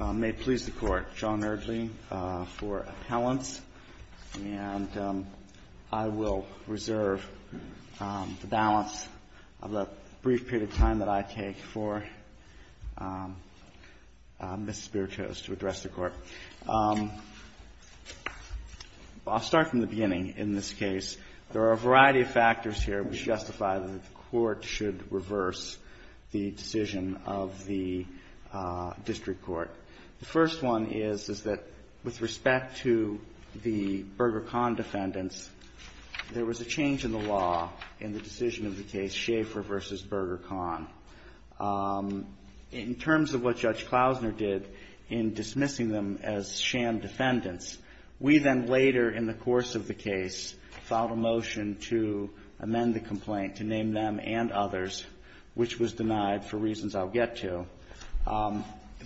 May it please the Court, John Erdle for appellants, and I will reserve the balance of the brief period of time that I take for Ms. Spirtos to address the Court. I'll start from the beginning in this case. There are a variety of factors here which justify that the Court should reverse the decision of the district court. The first one is that with respect to the Berger-Kahn defendants, there was a change in the law in the decision of the case Schaefer v. Berger-Kahn. In terms of what Judge Klausner did in dismissing them as sham defendants, we then later in the course of the case filed a motion to amend the complaint to name them and others, which was denied for reasons I'll get to.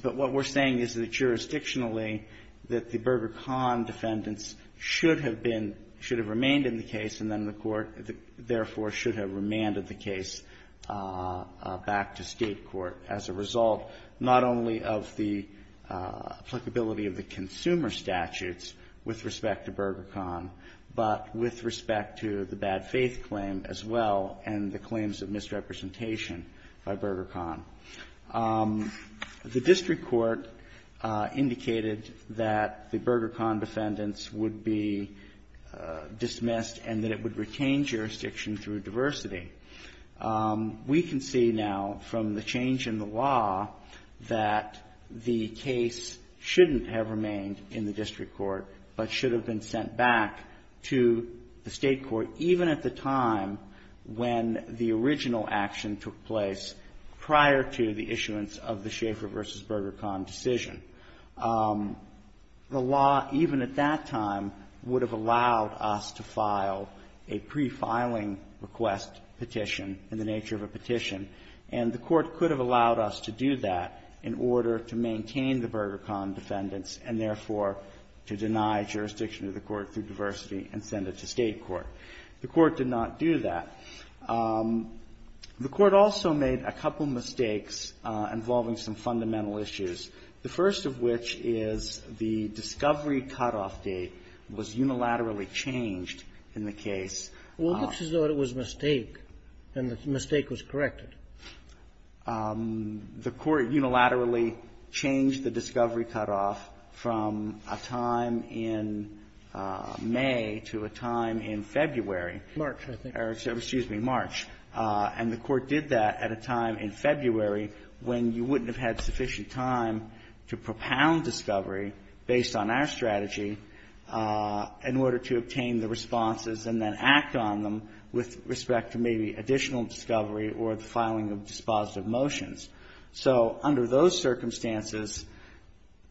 But what we're saying is that jurisdictionally that the Berger-Kahn defendants should have been, should have remained in the case, and then the Court therefore should have remanded the case back to State court as a result not only of the applicability of the consumer statutes with respect to Berger-Kahn but with respect to the bad faith claim as well and the claims of misrepresentation by Berger-Kahn. The district court indicated that the Berger-Kahn defendants would be dismissed and that it would retain jurisdiction through diversity. We can see now from the change in the law that the case shouldn't have remained in the district court but should have been sent back to the State court at the time when the original action took place prior to the issuance of the Schaeffer v. Berger-Kahn decision. The law even at that time would have allowed us to file a prefiling request petition in the nature of a petition, and the Court could have allowed us to do that in order to maintain the Berger-Kahn defendants and therefore to deny jurisdiction to the Court through diversity and send it to State court. The Court did not do that. The Court also made a couple mistakes involving some fundamental issues, the first of which is the discovery cutoff date was unilaterally changed in the case. Well, it looks as though it was a mistake and the mistake was corrected. The Court unilaterally changed the discovery cutoff from a time in May to a time in February. March, I think. Excuse me. March. And the Court did that at a time in February when you wouldn't have had sufficient time to propound discovery based on our strategy in order to obtain the responses and then act on them with respect to maybe additional discovery or the filing of dispositive motions. So under those circumstances,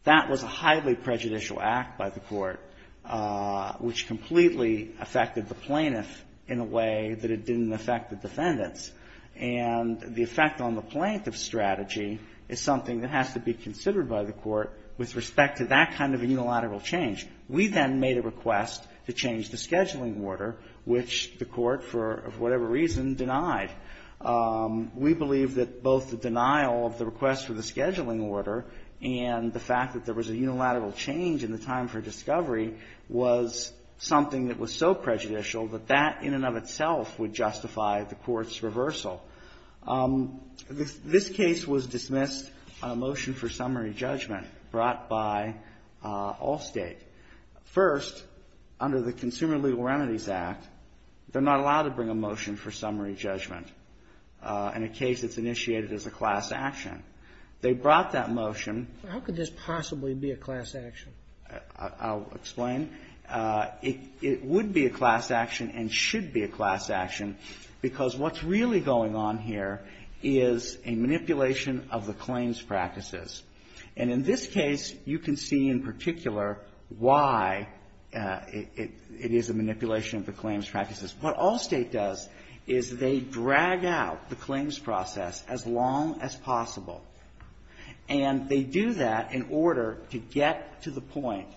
that was a highly prejudicial act by the Court, which completely affected the plaintiff in a way that it didn't affect the defendants. And the effect on the plaintiff's strategy is something that has to be considered by the Court with respect to that kind of a unilateral change. We then made a request to change the scheduling order, which the Court, for whatever reason, denied. We believe that both the denial of the request for the scheduling order and the fact that there was a unilateral change in the time for discovery was something that was so prejudicial that that in and of itself would justify the Court's reversal. This case was dismissed on a motion for summary judgment brought by Allstate. First, under the Consumer Legal Remedies Act, they're not allowed to bring a motion for summary judgment in a case that's initiated as a class action. They brought that motion. How could this possibly be a class action? I'll explain. It would be a class action and should be a class action because what's really going on here is a manipulation of the claims practices. And in this case, you can see in particular why it is a manipulation of the claims practices. What Allstate does is they drag out the claims process as long as possible. And they do that in order to get to the point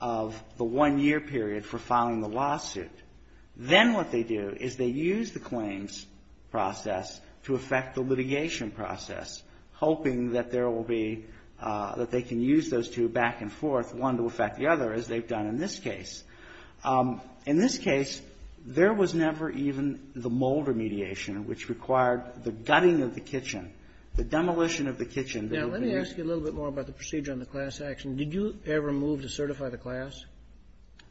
of the one-year period for filing the lawsuit. Then what they do is they use the claims process to affect the litigation process, hoping that there will be that they can use those two back and forth, one to affect the other, as they've done in this case. In this case, there was never even the mold remediation, which required the gutting of the kitchen, the demolition of the kitchen. Now, let me ask you a little bit more about the procedure on the class action. Did you ever move to certify the class?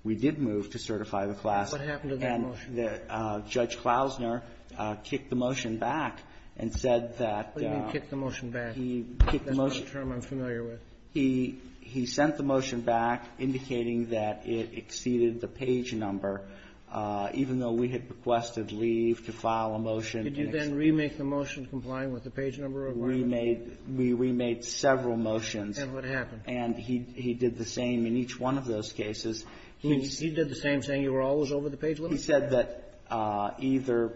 We did move to certify the class. What happened to that motion? And Judge Klausner kicked the motion back and said that he sent the motion back, indicating that it exceeded the page number, even though we had requested leave to file a motion. Did you then remake the motion complying with the page number requirement? We remade several motions. And what happened? And he did the same in each one of those cases. He did the same thing. You were always over the page. Let me say that. He said that either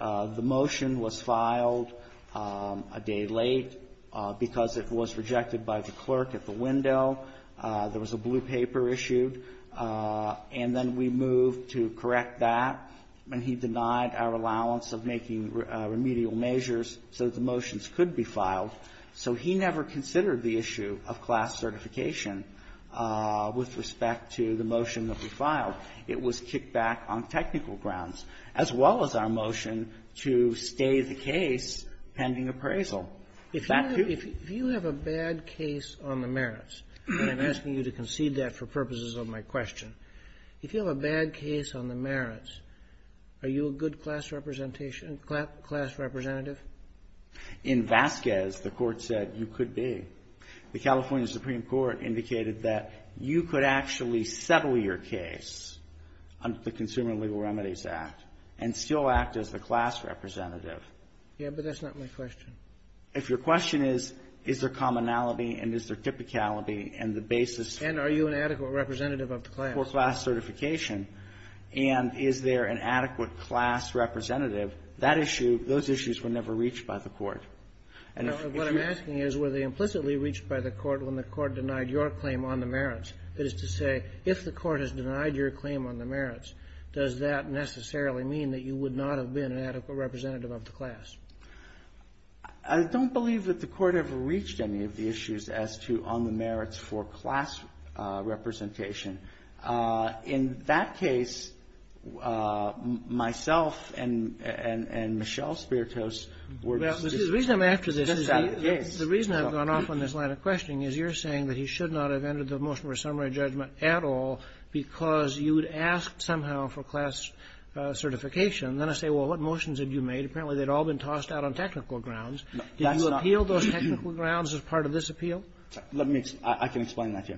the motion was filed a day late because it was rejected by the clerk at the window, there was a blue paper issued, and then we moved to correct that. And he denied our allowance of making remedial measures so that the motions could be filed. So he never considered the issue of class certification with respect to the motion that we filed. It was kicked back on technical grounds, as well as our motion to stay the case pending appraisal. If you have a bad case on the merits, and I'm asking you to concede that for purposes of my question, if you have a bad case on the merits, are you a good class representative? In Vasquez, the court said you could be. The California Supreme Court indicated that you could actually settle your case under the Consumer Legal Remedies Act and still act as the class representative. Yeah, but that's not my question. If your question is, is there commonality and is there typicality and the basis for class certification, and is there an adequate class representative that you could be? That issue, those issues were never reached by the court. What I'm asking is, were they implicitly reached by the court when the court denied your claim on the merits? That is to say, if the court has denied your claim on the merits, does that necessarily mean that you would not have been an adequate representative of the class? I don't believe that the court ever reached any of the issues as to on the merits for class representation. In that case, myself and Michelle Spiritos were just out of the case. Well, the reason I'm after this is the reason I've gone off on this line of questioning is you're saying that he should not have entered the motion for a summary judgment at all because you would ask somehow for class certification. Then I say, well, what motions had you made? Apparently, they'd all been tossed out on technical grounds. Did you appeal those technical grounds as part of this appeal? Let me explain. I can explain that to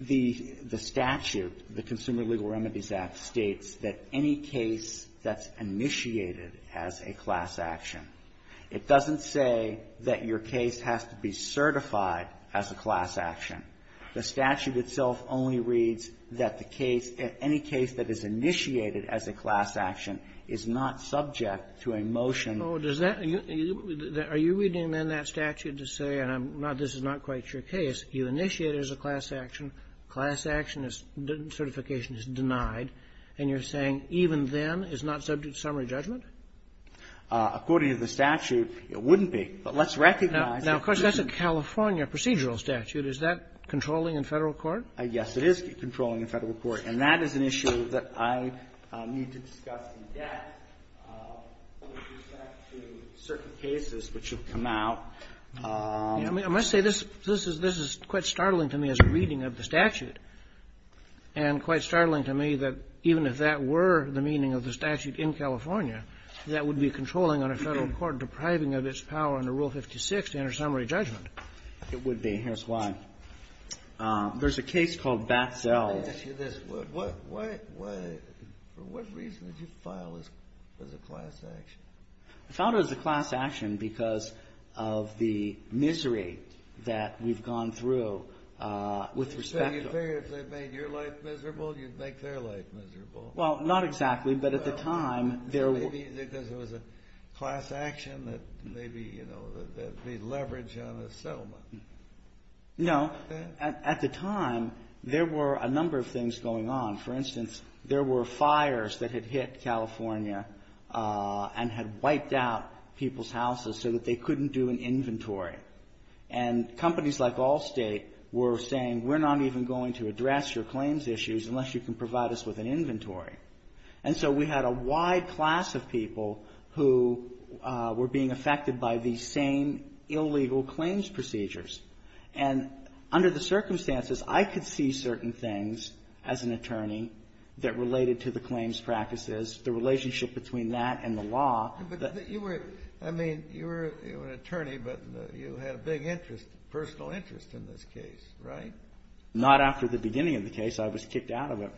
you. The statute, the Consumer Legal Remedies Act, states that any case that's initiated as a class action, it doesn't say that your case has to be certified as a class action. The statute itself only reads that the case, any case that is initiated as a class action, is not subject to a motion. Are you reading then that statute to say, and this is not quite your case, you initiate it as a class action. Class action certification is denied. And you're saying even then it's not subject to summary judgment? According to the statute, it wouldn't be. But let's recognize that this is a California procedural statute. Is that controlling in Federal court? Yes, it is controlling in Federal court. And that is an issue that I need to discuss in depth with respect to certain cases which have come out. I must say, this is quite startling to me as a reading of the statute. And quite startling to me that even if that were the meaning of the statute in California, that would be controlling on a Federal court, depriving of its power under Rule 56 to enter summary judgment. It would be. Here's why. There's a case called Batzell. Let me ask you this. For what reason did you file this as a class action? I filed it as a class action because of the misery that we've gone through with respect to it. So you figured if they made your life miserable, you'd make their life miserable? Well, not exactly. But at the time, there were. Maybe because it was a class action that maybe, you know, that they'd leverage on a settlement. No. At the time, there were a number of things going on. For instance, there were fires that had hit California and had wiped out people's houses so that they couldn't do an inventory. And companies like Allstate were saying, we're not even going to address your claims issues unless you can provide us with an inventory. And so we had a wide class of people who were being affected by these same illegal claims procedures. And under the circumstances, I could see certain things as an attorney that related to the claims practices, the relationship between that and the law. But you were, I mean, you were an attorney, but you had a big interest, personal interest in this case, right? Not after the beginning of the case. I was kicked out of it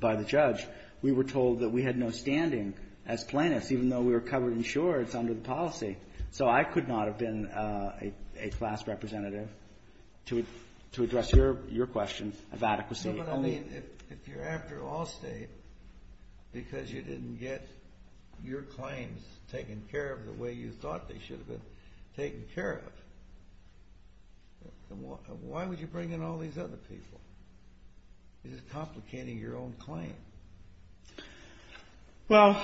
by the judge. We were told that we had no standing as plaintiffs, even though we were covered in shorts under the policy. So I could not have been a class representative to address your question of adequacy. But I mean, if you're after Allstate because you didn't get your claims taken care of the way you thought they should have been taken care of, why would you bring in all these other people? You're just complicating your own claim. Well,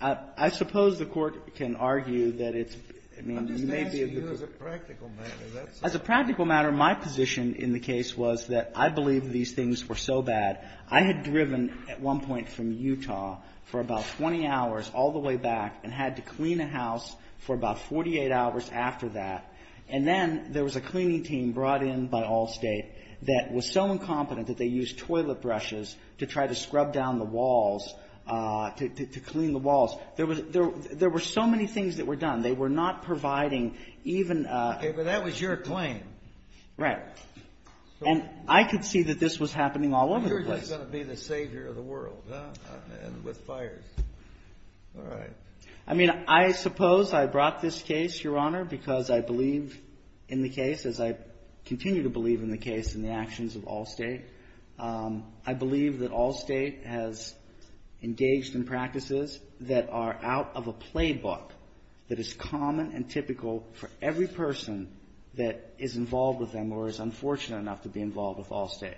I suppose the Court can argue that it's, I mean, you may be able to. I'm just answering you as a practical matter. As a practical matter, my position in the case was that I believe these things were so bad. I had driven at one point from Utah for about 20 hours all the way back and had to clean a house for about 48 hours after that. And then there was a cleaning team brought in by Allstate that was so incompetent that they used toilet brushes to try to scrub down the walls, to clean the walls. There were so many things that were done. They were not providing even a... Okay, but that was your claim. Right. And I could see that this was happening all over the place. You're just going to be the savior of the world, huh, with fires. All right. I mean, I suppose I brought this case, Your Honor, because I believe in the case, as I continue to believe in the case and the actions of Allstate. I believe that Allstate has engaged in practices that are out of a playbook that is common and typical for every person that is involved with them or is unfortunate enough to be involved with Allstate.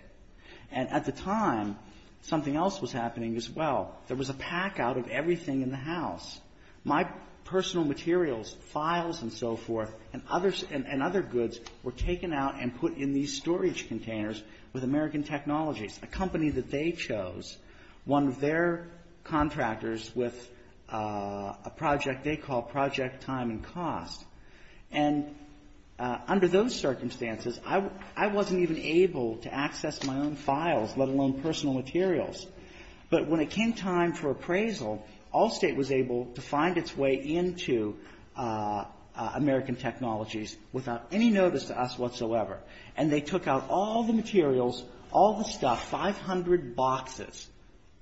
And at the time, something else was happening as well. There was a pack out of everything in the house. My personal materials, files and so forth, and other goods were taken out and put in these storage containers with American Technologies, a company that they chose, one of their contractors with a project they call Project Time and Cost. And under those circumstances, I wasn't even able to access my own files, let alone personal materials. But when it came time for appraisal, Allstate was able to find its way into American Technologies without any notice to us whatsoever. And they took out all the materials, all the stuff, 500 boxes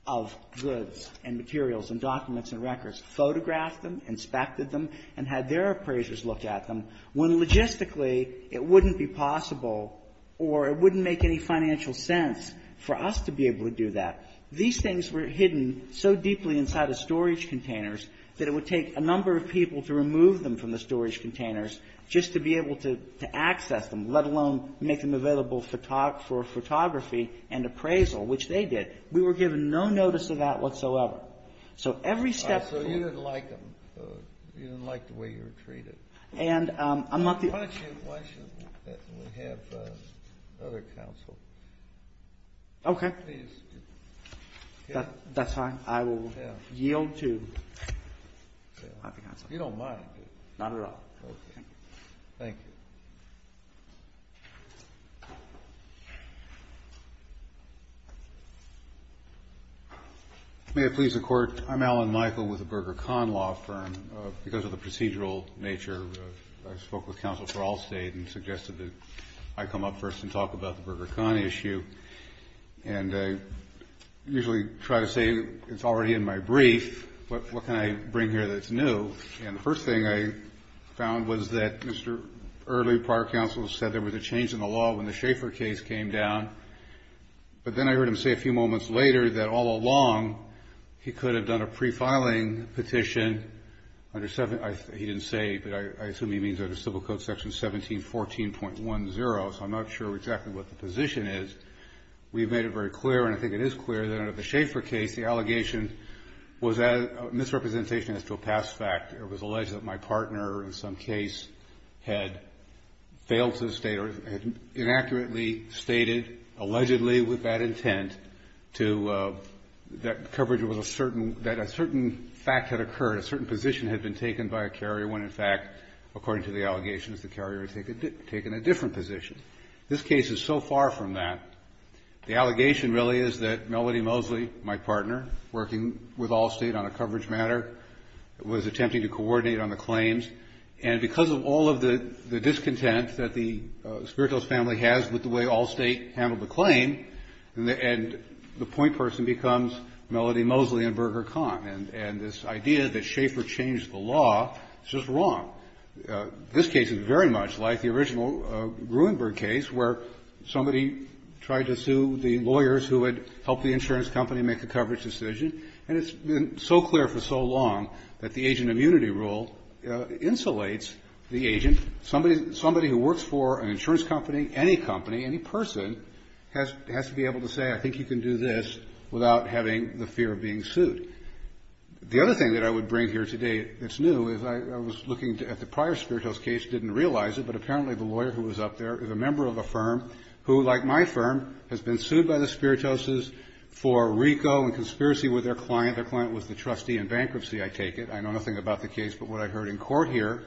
of goods and materials and documents and records, photographed them, inspected them, and had their appraisers look at them, when logistically it wouldn't be possible or it wouldn't make any financial sense for us to be able to do that. These things were hidden so deeply inside the storage containers that it would take a number of people to remove them from the storage containers just to be able to access them, let alone make them available for photography and appraisal, which they did. We were given no notice of that whatsoever. So every step to it was the same. Kennedy. So you didn't like them. You didn't like the way you were treated. Why don't we have another counsel? Okay. That's fine. I will yield to. You don't mind. Not at all. Okay. Thank you. May it please the Court. I'm Alan Michael with the Berger-Kahn Law Firm. Because of the procedural nature, I spoke with counsel for Allstate and suggested that I come up first and talk about the Berger-Kahn issue. And I usually try to say it's already in my brief. What can I bring here that's new? And the first thing I found was that Mr. Earley, prior counsel, said there was a change in the law when the Schaefer case came down. But then I heard him say a few moments later that all along, he could have done a prefiling petition. He didn't say, but I assume he means under Civil Code Section 1714.10. So I'm not sure exactly what the position is. We've made it very clear, and I think it is clear, that under the Schaefer case the allegation was misrepresentation as to a past fact. It was alleged that my partner in some case had failed to state or had inaccurately stated, allegedly with bad intent, that coverage was a certain, that a certain fact had occurred, a certain position had been taken by a carrier when, in fact, according to the allegations, the carrier had taken a different position. This case is so far from that. The allegation really is that Melody Mosley, my partner, working with Allstate on a coverage matter, was attempting to coordinate on the claims. And because of all of the discontent that the Spiritos family has with the way Allstate handled the claim, and the point person becomes Melody Mosley and Berger-Kahn. And this idea that Schaefer changed the law is just wrong. This case is very much like the original Gruenberg case where somebody tried to sue the lawyers who had helped the insurance company make the coverage decision. And it's been so clear for so long that the agent immunity rule insulates the agent. Somebody who works for an insurance company, any company, any person, has to be able to say, I think you can do this without having the fear of being sued. The other thing that I would bring here today that's new is I was looking at the prior Spiritos case, didn't realize it, but apparently the lawyer who was up there is a member of a firm who, like my firm, has been sued by the Spiritoses for RICO and conspiracy with their client. Their client was the trustee in bankruptcy, I take it. I know nothing about the case but what I heard in court here.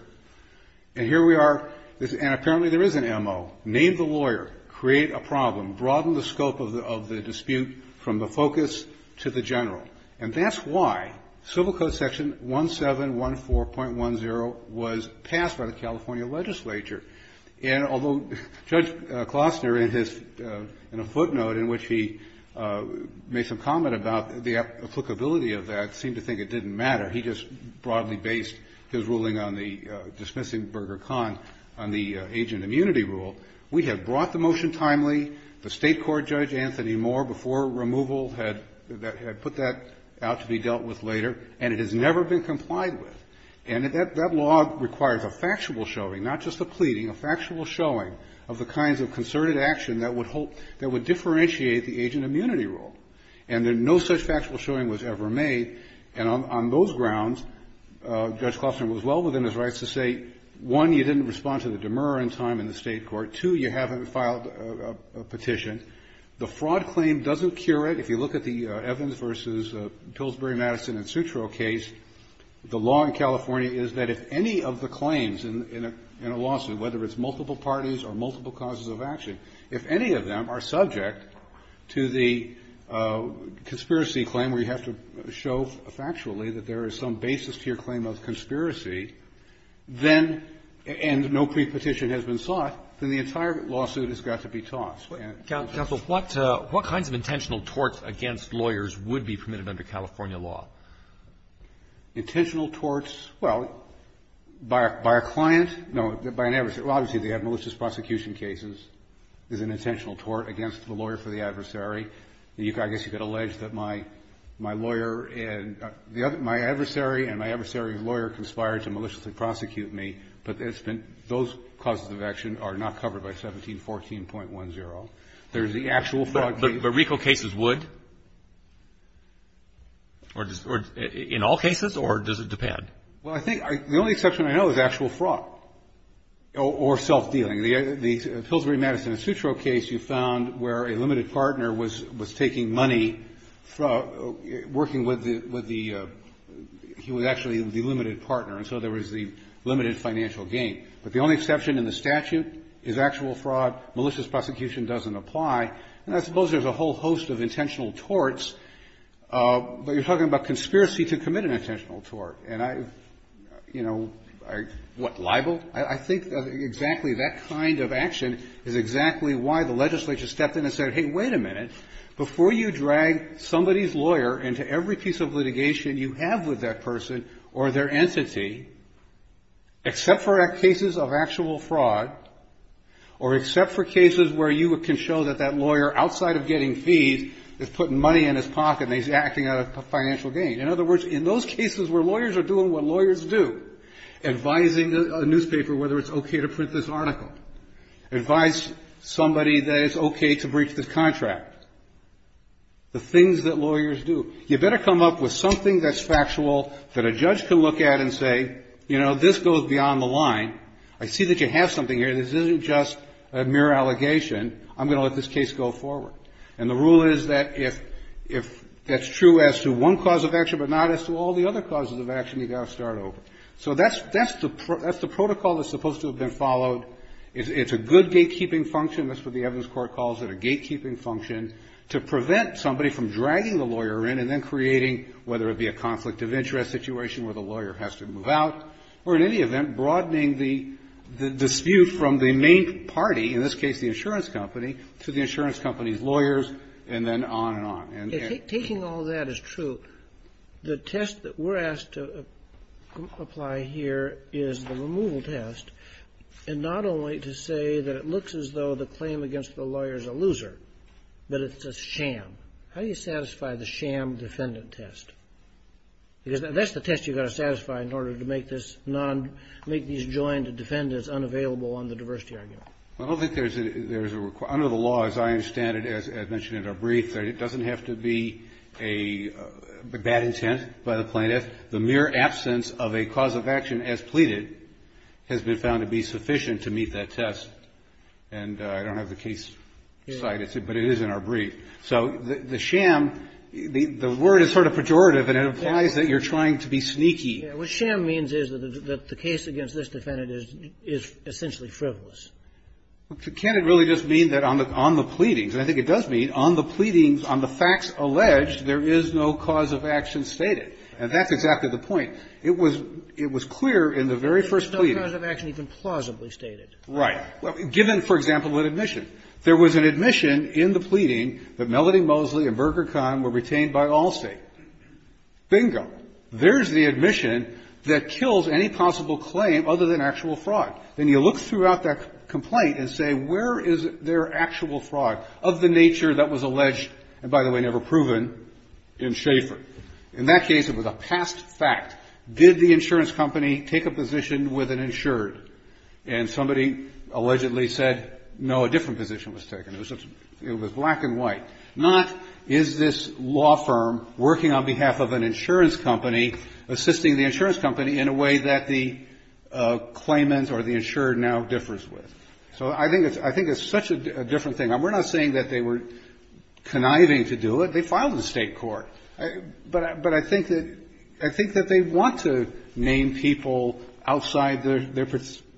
And here we are. And apparently there is an M.O. Name the lawyer. Create a problem. Broaden the scope of the dispute from the focus to the general. And that's why Civil Code Section 1714.10 was passed by the California legislature. And although Judge Klostner in his footnote in which he made some comment about the applicability of that seemed to think it didn't matter. He just broadly based his ruling on the dismissing Berger-Kahn on the agent immunity rule. We have brought the motion timely. The State Court Judge Anthony Moore before removal had put that out to be dealt with later and it has never been complied with. And that law requires a factual showing, not just a pleading, a factual showing of the kinds of concerted action that would differentiate the agent immunity rule. And no such factual showing was ever made. And on those grounds, Judge Klostner was well within his rights to say, one, you didn't respond to the demer in time in the State Court. Two, you haven't filed a petition. The fraud claim doesn't cure it. If you look at the Evans v. Pillsbury, Madison and Sutro case, the law in California is that if any of the claims in a lawsuit, whether it's multiple parties or multiple causes of action, if any of them are subject to the conspiracy claim where you have to show factually that there is some basis to your claim of conspiracy, then and no pre-petition has been sought, then the entire lawsuit has got to be tossed. Roberts. What kinds of intentional torts against lawyers would be permitted under California law? Intentional torts, well, by a client, no, by an adversary. Well, obviously, they have malicious prosecution cases. There's an intentional tort against the lawyer for the adversary. I guess you could allege that my lawyer and my adversary and my adversary's lawyer conspired to maliciously prosecute me. But those causes of action are not covered by 1714.10. There's the actual fraud claim. But RICO cases would? In all cases, or does it depend? Well, I think the only exception I know is actual fraud. Or self-dealing. The Pillsbury, Madison and Sutro case you found where a limited partner was taking money, working with the he was actually the limited partner, and so there was the limited financial gain. But the only exception in the statute is actual fraud. Malicious prosecution doesn't apply. And I suppose there's a whole host of intentional torts. But you're talking about conspiracy to commit an intentional tort. And I, you know, what, libel? I think exactly that kind of action is exactly why the legislature stepped in and said, hey, wait a minute. Before you drag somebody's lawyer into every piece of litigation you have with that person or their entity, except for cases of actual fraud or except for cases where you can show that that lawyer outside of getting fees is putting money in his pocket and he's acting out of financial gain. In other words, in those cases where lawyers are doing what lawyers do, advising a newspaper whether it's okay to print this article. Advise somebody that it's okay to breach this contract. The things that lawyers do. You better come up with something that's factual that a judge can look at and say, you know, this goes beyond the line. I see that you have something here. This isn't just a mere allegation. I'm going to let this case go forward. And the rule is that if it's true as to one cause of action but not as to all the other causes of action, you've got to start over. So that's the protocol that's supposed to have been followed. It's a good gatekeeping function, that's what the evidence court calls it, a gatekeeping function to prevent somebody from dragging the lawyer in and then creating, whether it be a conflict of interest situation where the lawyer has to move out, or in any event, broadening the dispute from the main party, in this case the insurance company, to the insurance company's lawyers, and then on and on. If taking all that is true, the test that we're asked to apply here is the removal test, and not only to say that it looks as though the claim against the lawyer is a loser, but it's a sham. How do you satisfy the sham defendant test? Because that's the test you've got to satisfy in order to make this non – make these joined defendants unavailable on the diversity argument. I don't think there's a – under the law, as I understand it, as mentioned in our brief, that it doesn't have to be a bad intent by the plaintiff. The mere absence of a cause of action as pleaded has been found to be sufficient to meet that test. And I don't have the case cited, but it is in our brief. So the sham, the word is sort of pejorative, and it implies that you're trying to be sneaky. What sham means is that the case against this defendant is essentially frivolous. Well, can't it really just mean that on the – on the pleadings, and I think it does mean on the pleadings, on the facts alleged, there is no cause of action stated? And that's exactly the point. It was – it was clear in the very first pleading. There's no cause of action even plausibly stated. Right. Given, for example, an admission. There was an admission in the pleading that Melody Mosley and Berger-Kahn were retained by all State. Bingo. There's the admission that kills any possible claim other than actual fraud. Then you look throughout that complaint and say, where is their actual fraud of the nature that was alleged, and by the way, never proven, in Schaeffer? In that case, it was a past fact. Did the insurance company take a position with an insured? And somebody allegedly said, no, a different position was taken. It was black and white. Not is this law firm working on behalf of an insurance company, assisting the insurance company in a way that the claimant or the insured now differs with? So I think it's such a different thing. We're not saying that they were conniving to do it. They filed in State court. But I think that they want to name people outside their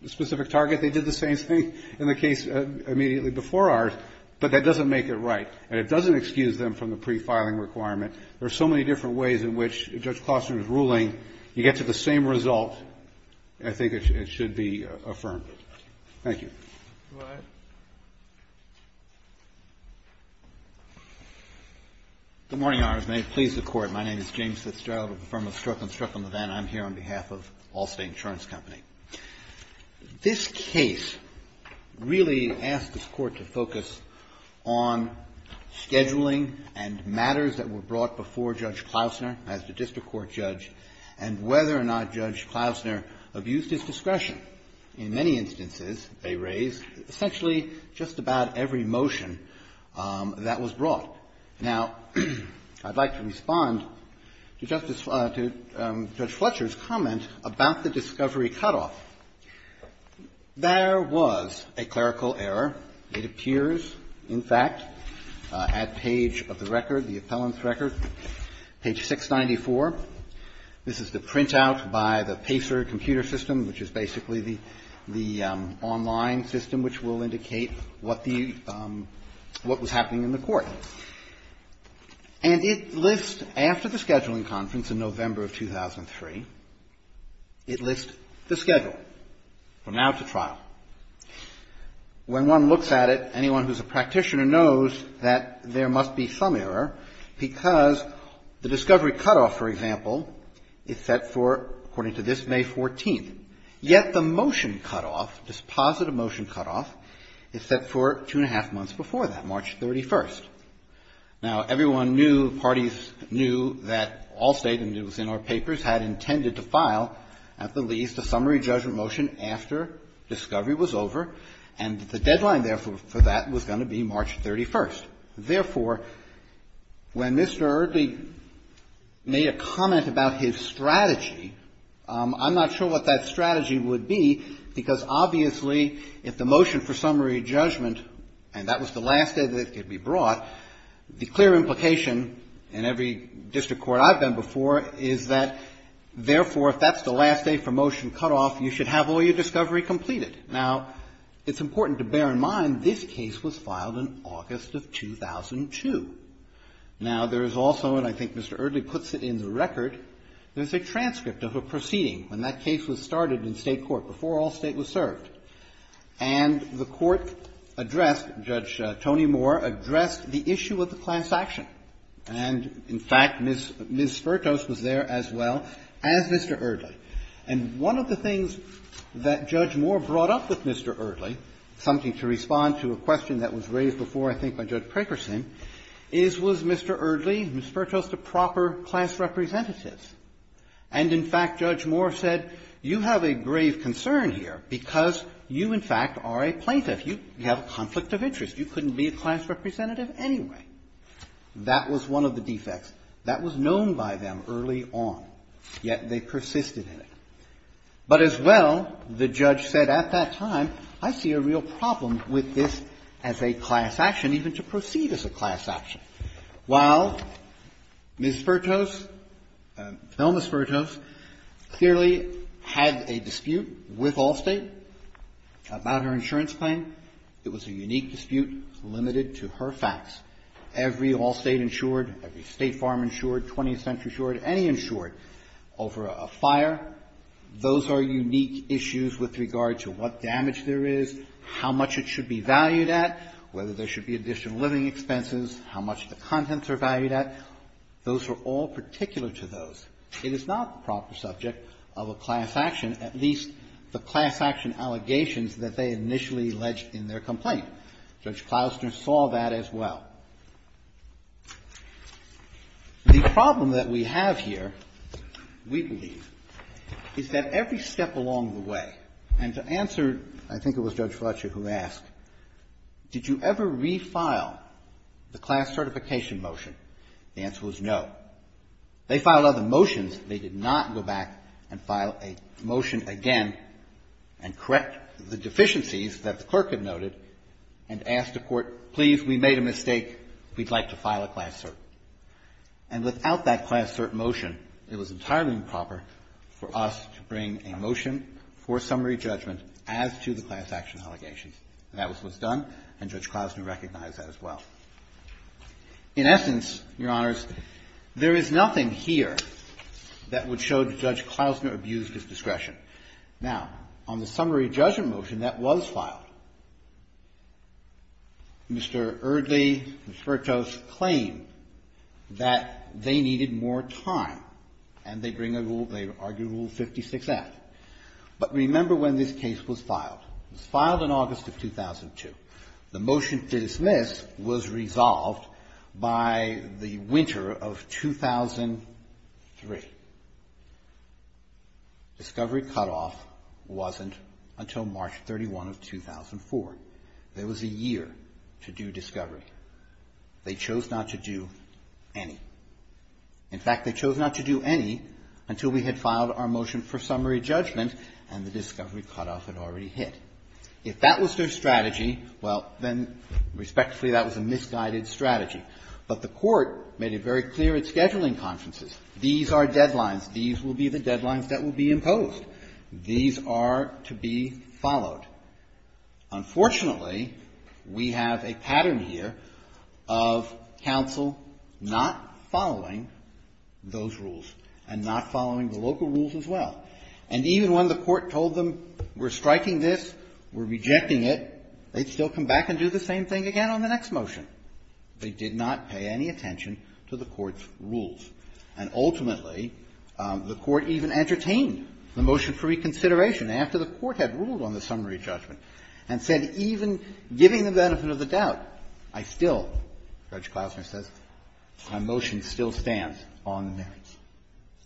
specific target. They did the same thing in the case immediately before ours, but that doesn't make it right, and it doesn't excuse them from the pre-filing requirement. There are so many different ways in which, if Judge Klostner is ruling, you get to the same result, I think it should be affirmed. Thank you. Go ahead. Good morning, Your Honors. May it please the Court. My name is James Fitzgerald with the firm of Strzok & Strzok & Levin. I'm here on behalf of Allstate Insurance Company. This case really asked this Court to focus on scheduling and matters that were brought before Judge Klostner as the district court judge, and whether or not Judge Klostner abused his discretion. In many instances, they raised essentially just about every motion that was brought. Now, I'd like to respond to Judge Fletcher's comment about the discovery cutoff. There was a clerical error. It appears, in fact, at page of the record, the appellant's record, page 694. This is the printout by the PACER computer system, which is basically the online system which will indicate what the, what was happening in the court. And it lists, after the scheduling conference in November of 2003, it lists the schedule from now to trial. When one looks at it, anyone who's a practitioner knows that there must be some error, because the discovery cutoff, for example, is set for, according to this, May 14th. Yet the motion cutoff, this positive motion cutoff, is set for two and a half months before that, March 31st. Now, everyone knew, parties knew, that Allstate, and it was in our papers, had intended to file, at the least, a summary judgment motion after discovery was over, and the deadline, therefore, for that was going to be March 31st. Therefore, when Mr. Eardley made a comment about his strategy, I'm not sure what that strategy would be, because obviously, if the motion for summary judgment, and that was the last day that it could be brought, the clear implication in every district court I've been before is that, therefore, if that's the last day for motion cutoff, you should have all your discovery completed. Now, it's important to bear in mind, this case was filed in August of 2002. Now, there is also, and I think Mr. Eardley puts it in the record, there's a transcript of a proceeding when that case was started in State court, before Allstate was served, and the Court addressed, Judge Tony Moore addressed the issue of the class action. And, in fact, Ms. Spertos was there as well as Mr. Eardley. And one of the things that Judge Moore brought up with Mr. Eardley, something to respond to a question that was raised before, I think, by Judge Prakerson, is, was Mr. Eardley, Ms. Spertos, the proper class representative? And, in fact, Judge Moore said, you have a grave concern here because you, in fact, are a plaintiff. You have a conflict of interest. You couldn't be a class representative anyway. That was one of the defects. That was known by them early on, yet they persisted in it. But as well, the judge said at that time, I see a real problem with this as a class action, even to proceed as a class action. While Ms. Spertos, Thelma Spertos, clearly had a dispute with Allstate about her insurance claim, it was a unique dispute limited to her facts. Every Allstate insured, every State farm insured, 20th Century insured, any insured over a fire, those are unique issues with regard to what damage there is, how much it should be valued at, whether there should be additional living expenses, how much the contents are valued at. Those were all particular to those. It is not the proper subject of a class action, at least the class action allegations that they initially alleged in their complaint. Judge Klobuchar saw that as well. The problem that we have here, we believe, is that every step along the way, and to answer, I think it was Judge Fletcher who asked, did you ever re-file the class certification motion, the answer was no. They filed other motions, they did not go back and file a motion again and correct the deficiencies that the clerk had noted and ask the Court, please, we made a mistake, we'd like to file a class cert. And without that class cert motion, it was entirely improper for us to bring a motion for summary judgment as to the class action allegations. And that was what was done, and Judge Klausner recognized that as well. In essence, Your Honors, there is nothing here that would show that Judge Klausner abused his discretion. Now, on the summary judgment motion that was filed, Mr. Erdly and Fertos claimed that they needed more time, and they bring a rule, they argue Rule 56-F. But remember when this case was filed, it was filed in August of 2002. The motion to dismiss was resolved by the winter of 2003. Discovery cutoff wasn't until March 31 of 2004. There was a year to do discovery. They chose not to do any. In fact, they chose not to do any until we had filed our motion for summary judgment and the discovery cutoff had already hit. If that was their strategy, well, then respectfully, that was a misguided strategy. But the Court made it very clear at scheduling conferences, these are deadlines. These will be the deadlines that will be imposed. These are to be followed. Unfortunately, we have a pattern here of counsel not following those rules and not following the local rules as well. And even when the Court told them we're striking this, we're rejecting it, they'd still come back and do the same thing again on the next motion. They did not pay any attention to the Court's rules. And ultimately, the Court even entertained the motion for reconsideration after the Court had ruled on the summary judgment and said even giving the benefit of the doubt, I still, Judge Klausner says, my motion still stands on merits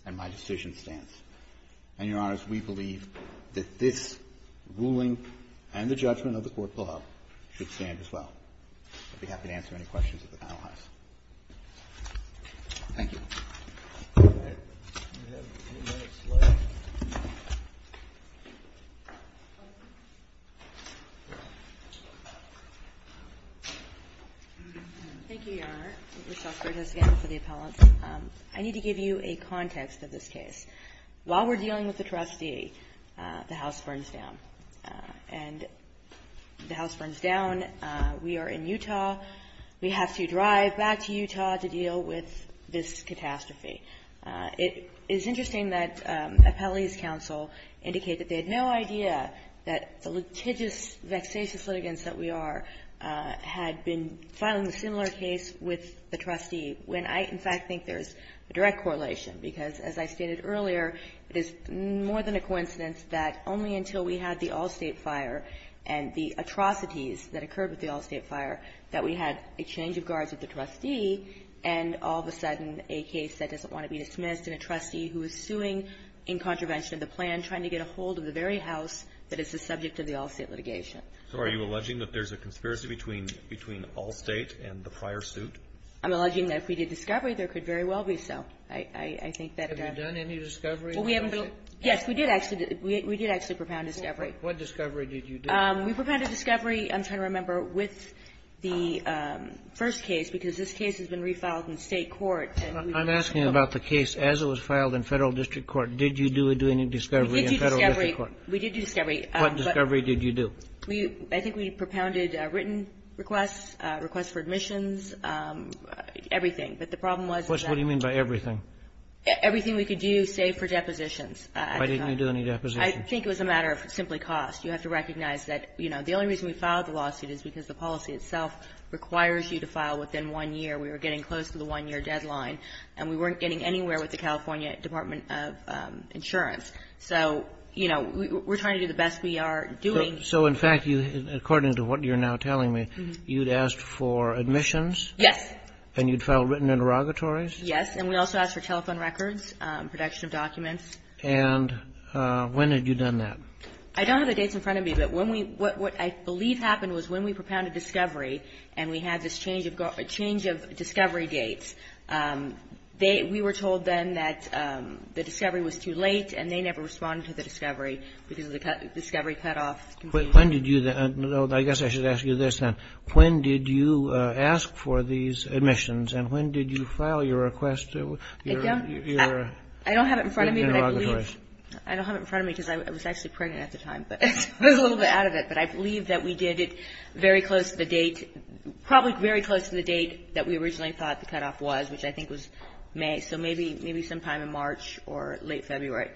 and my decision stands. And, Your Honors, we believe that this ruling and the judgment of the court below should stand as well. I'd be happy to answer any questions at the trial house. Thank you. Thank you, Your Honor. I need to give you a context of this case. While we're dealing with the trustee, the house burns down. And the house burns down. We are in Utah. We have to drive back to Utah to deal with this catastrophe. It is interesting that Appellee's counsel indicated they had no idea that the litigious, vexatious litigants that we are had been filing a similar case with the trustee when I, in fact, think there's a direct correlation. Because as I stated earlier, it is more than a coincidence that only until we had the all-state fire that we had a change of guards with the trustee and all of a sudden a case that doesn't want to be dismissed and a trustee who is suing in contravention of the plan trying to get a hold of the very house that is the subject of the all-state litigation. So are you alleging that there's a conspiracy between all-state and the prior suit? I'm alleging that if we did discovery, there could very well be so. I think that the ---- Have you done any discovery? Yes, we did actually. We did actually propound discovery. What discovery did you do? We propounded discovery, I'm trying to remember, with the first case, because this case has been refiled in State court. I'm asking about the case as it was filed in Federal district court. Did you do any discovery in Federal district court? We did do discovery. We did do discovery. What discovery did you do? I think we propounded written requests, requests for admissions, everything. But the problem was that ---- What do you mean by everything? Everything we could do, save for depositions. Why didn't you do any depositions? I think it was a matter of simply cost. You have to recognize that, you know, the only reason we filed the lawsuit is because the policy itself requires you to file within one year. We were getting close to the one-year deadline, and we weren't getting anywhere with the California Department of Insurance. So, you know, we're trying to do the best we are doing. So in fact, according to what you're now telling me, you'd asked for admissions? Yes. And you'd filed written interrogatories? Yes. And we also asked for telephone records, production of documents. And when had you done that? I don't have the dates in front of me, but when we ---- what I believe happened was when we propounded discovery, and we had this change of discovery dates, we were told then that the discovery was too late, and they never responded to the discovery because of the discovery cutoff. When did you ---- I guess I should ask you this then. When did you ask for these admissions, and when did you file your request? I don't have it in front of me. I don't have it in front of me because I was actually pregnant at the time, but I was a little bit out of it. But I believe that we did it very close to the date, probably very close to the date that we originally thought the cutoff was, which I think was May, so maybe sometime in March or late February.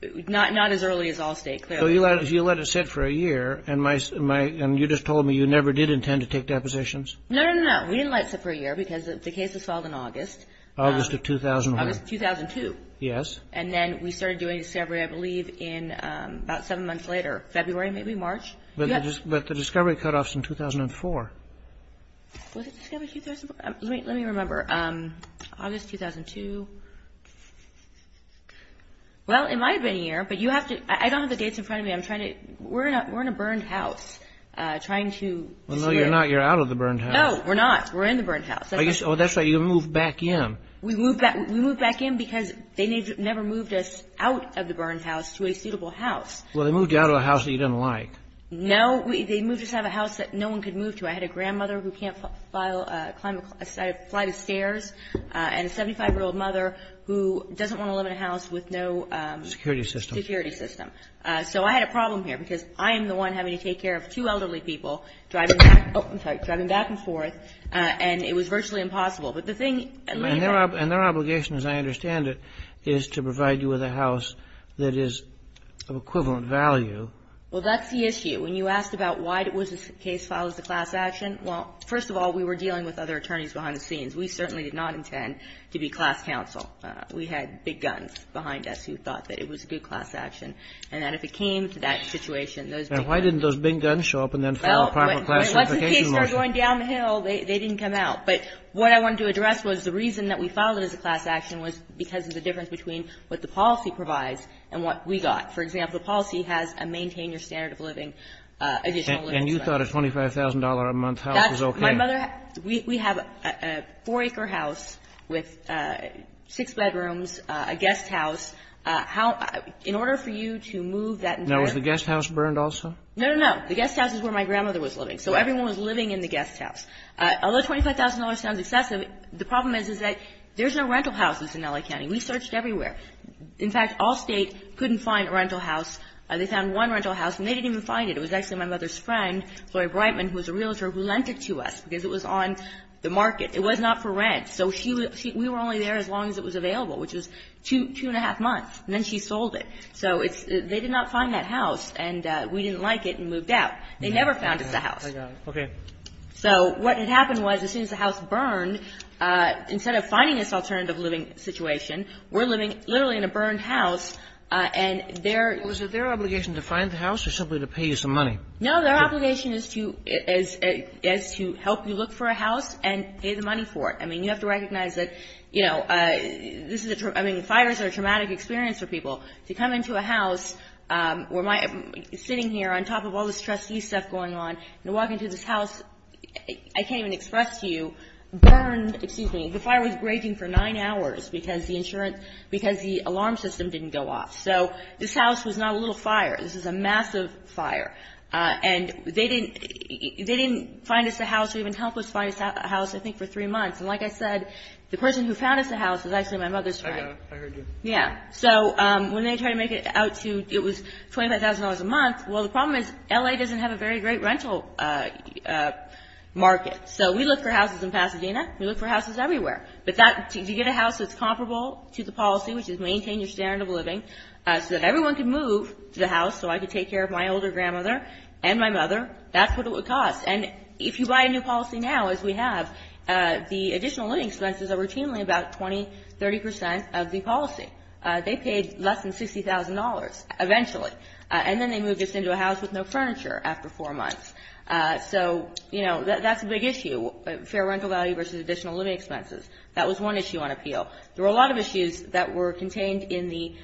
Not as early as Allstate, clearly. So you let it sit for a year, and you just told me you never did intend to take depositions? No, no, no. We didn't let it sit for a year because the case was filed in August. August of 2001. August of 2002. Yes. And then we started doing discovery, I believe, in about seven months later, February, maybe March. But the discovery cutoff is in 2004. Was it 2004? Let me remember. August 2002. Well, it might have been a year, but you have to ---- I don't have the dates in front of me. I'm trying to ---- We're in a burned house trying to ---- No, you're not. You're out of the burned house. No, we're not. We're in the burned house. Oh, that's right. So you moved back in. We moved back in because they never moved us out of the burned house to a suitable house. Well, they moved you out of a house that you didn't like. No. They moved us out of a house that no one could move to. I had a grandmother who can't fly the stairs and a 75-year-old mother who doesn't want to live in a house with no ---- Security system. Security system. So I had a problem here because I am the one having to take care of two elderly people driving back and forth, and it was virtually impossible. But the thing ---- And their obligation, as I understand it, is to provide you with a house that is of equivalent value. Well, that's the issue. When you asked about why it was a case filed as a class action, well, first of all, we were dealing with other attorneys behind the scenes. We certainly did not intend to be class counsel. We had big guns behind us who thought that it was a good class action and that if it came to that situation, those big guns ---- And why didn't those big guns show up and then file a proper class certification motion? Well, once the kids started going downhill, they didn't come out. But what I wanted to address was the reason that we filed it as a class action was because of the difference between what the policy provides and what we got. For example, the policy has a maintain your standard of living, additional living space. And you thought a $25,000-a-month house was okay? My mother ---- We have a four-acre house with six bedrooms, a guest house. How ---- In order for you to move that entire ---- Now, was the guest house burned also? No, no, no. The guest house is where my grandmother was living. So everyone was living in the guest house. Although $25,000 sounds excessive, the problem is, is that there's no rental houses in L.A. County. We searched everywhere. In fact, all State couldn't find a rental house. They found one rental house, and they didn't even find it. It was actually my mother's friend, Gloria Breitman, who was a realtor, who lent it to us because it was on the market. It was not for rent. So we were only there as long as it was available, which was two and a half months. And then she sold it. So they did not find that house, and we didn't like it and moved out. They never found us a house. Okay. So what had happened was, as soon as the house burned, instead of finding this alternative living situation, we're living literally in a burned house, and their ---- Was it their obligation to find the house or simply to pay you some money? No, their obligation is to help you look for a house and pay the money for it. I mean, you have to recognize that, you know, this is a ---- I mean, fires are a traumatic experience for people. To come into a house where my ---- sitting here on top of all this trustee stuff going on, and walk into this house, I can't even express to you, burned ---- excuse me. The fire was raging for nine hours because the insurance ---- because the alarm system didn't go off. So this house was not a little fire. This was a massive fire. And they didn't find us a house or even help us find a house, I think, for three months. And like I said, the person who found us a house was actually my mother's friend. I heard you. Yeah. So when they tried to make it out to ---- it was $25,000 a month. Well, the problem is L.A. doesn't have a very great rental market. So we look for houses in Pasadena. We look for houses everywhere. But that ---- to get a house that's comparable to the policy, which is maintain your standard of living, so that everyone can move to the house so I can take care of my older grandmother and my mother, that's what it would cost. And if you buy a new policy now, as we have, the additional living expenses are routinely about 20, 30 percent of the policy. They paid less than $60,000 eventually. And then they moved us into a house with no furniture after four months. So, you know, that's a big issue, fair rental value versus additional living expenses. That was one issue on appeal. There were a lot of issues that were contained in the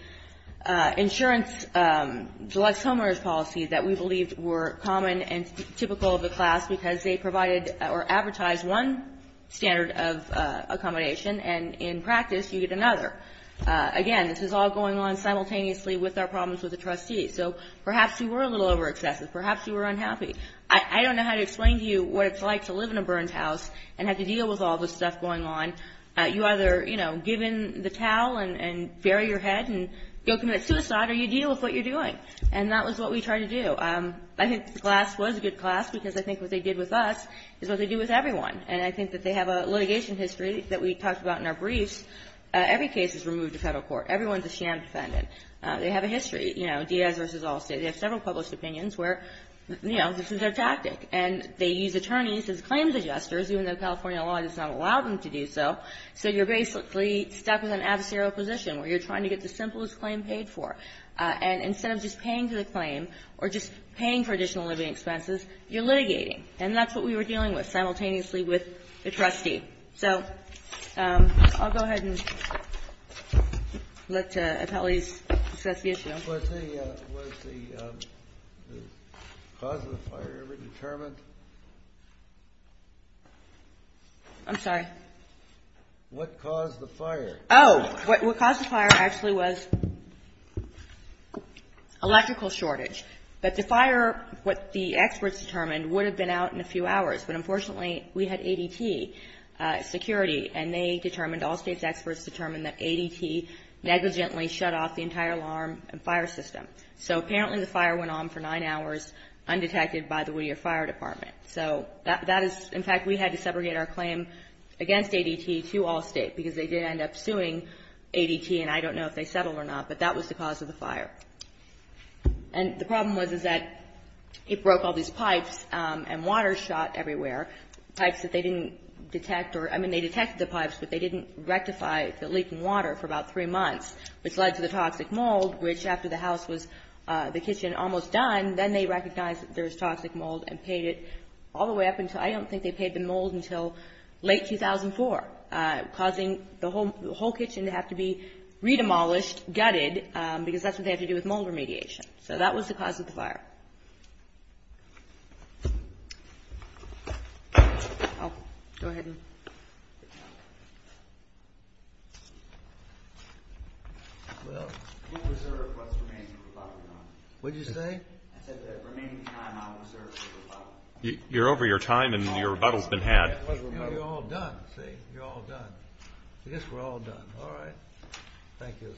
insurance deluxe homeowners policy that we believed were common and typical of the class because they provided or advertised one standard of accommodation and in practice you get another. Again, this is all going on simultaneously with our problems with the trustees. So perhaps you were a little over excessive. Perhaps you were unhappy. I don't know how to explain to you what it's like to live in a burnt house and have to deal with all this stuff going on. You either, you know, give in the towel and bury your head and go commit suicide or you deal with what you're doing. And that was what we tried to do. I think the class was a good class because I think what they did with us is what they do with everyone. And I think that they have a litigation history that we talked about in our briefs. Every case is removed to Federal court. Everyone is a sham defendant. They have a history, you know, Diaz versus Allstate. They have several published opinions where, you know, this is their tactic. And they use attorneys as claims adjusters even though California law does not allow them to do so. So you're basically stuck with an adversarial position where you're trying to get the simplest claim paid for. And instead of just paying for the claim or just paying for additional living expenses, you're litigating. And that's what we were dealing with simultaneously with the trustee. So I'll go ahead and let appellees discuss the issue. Was the cause of the fire ever determined? I'm sorry. What caused the fire? Oh, what caused the fire actually was electrical shortage. But the fire, what the experts determined, would have been out in a few hours. But unfortunately, we had ADT security, and they determined, Allstate's experts determined, that ADT negligently shut off the entire alarm and fire system. So apparently the fire went on for nine hours undetected by the Whittier Fire Department. So that is, in fact, we had to segregate our claim against ADT to Allstate, because they did end up suing ADT, and I don't know if they settled or not. But that was the cause of the fire. And the problem was, is that it broke all these pipes and water shot everywhere. Pipes that they didn't detect or, I mean, they detected the pipes, but they didn't rectify the leaking water for about three months, which led to the toxic mold, which after the house was, the kitchen almost done, then they recognized that there was toxic mold and paid it all the way up until, I don't think they paid the mold until late 2004, causing the whole kitchen to have to be re-demolished, gutted, because that's what they have to do with mold remediation. So that was the cause of the fire. Oh, go ahead. Well, what did you say? I said that the remaining time I'll reserve for rebuttal. You're over your time, and your rebuttal's been had. You're all done, see. You're all done. I guess we're all done. All right. Thank you.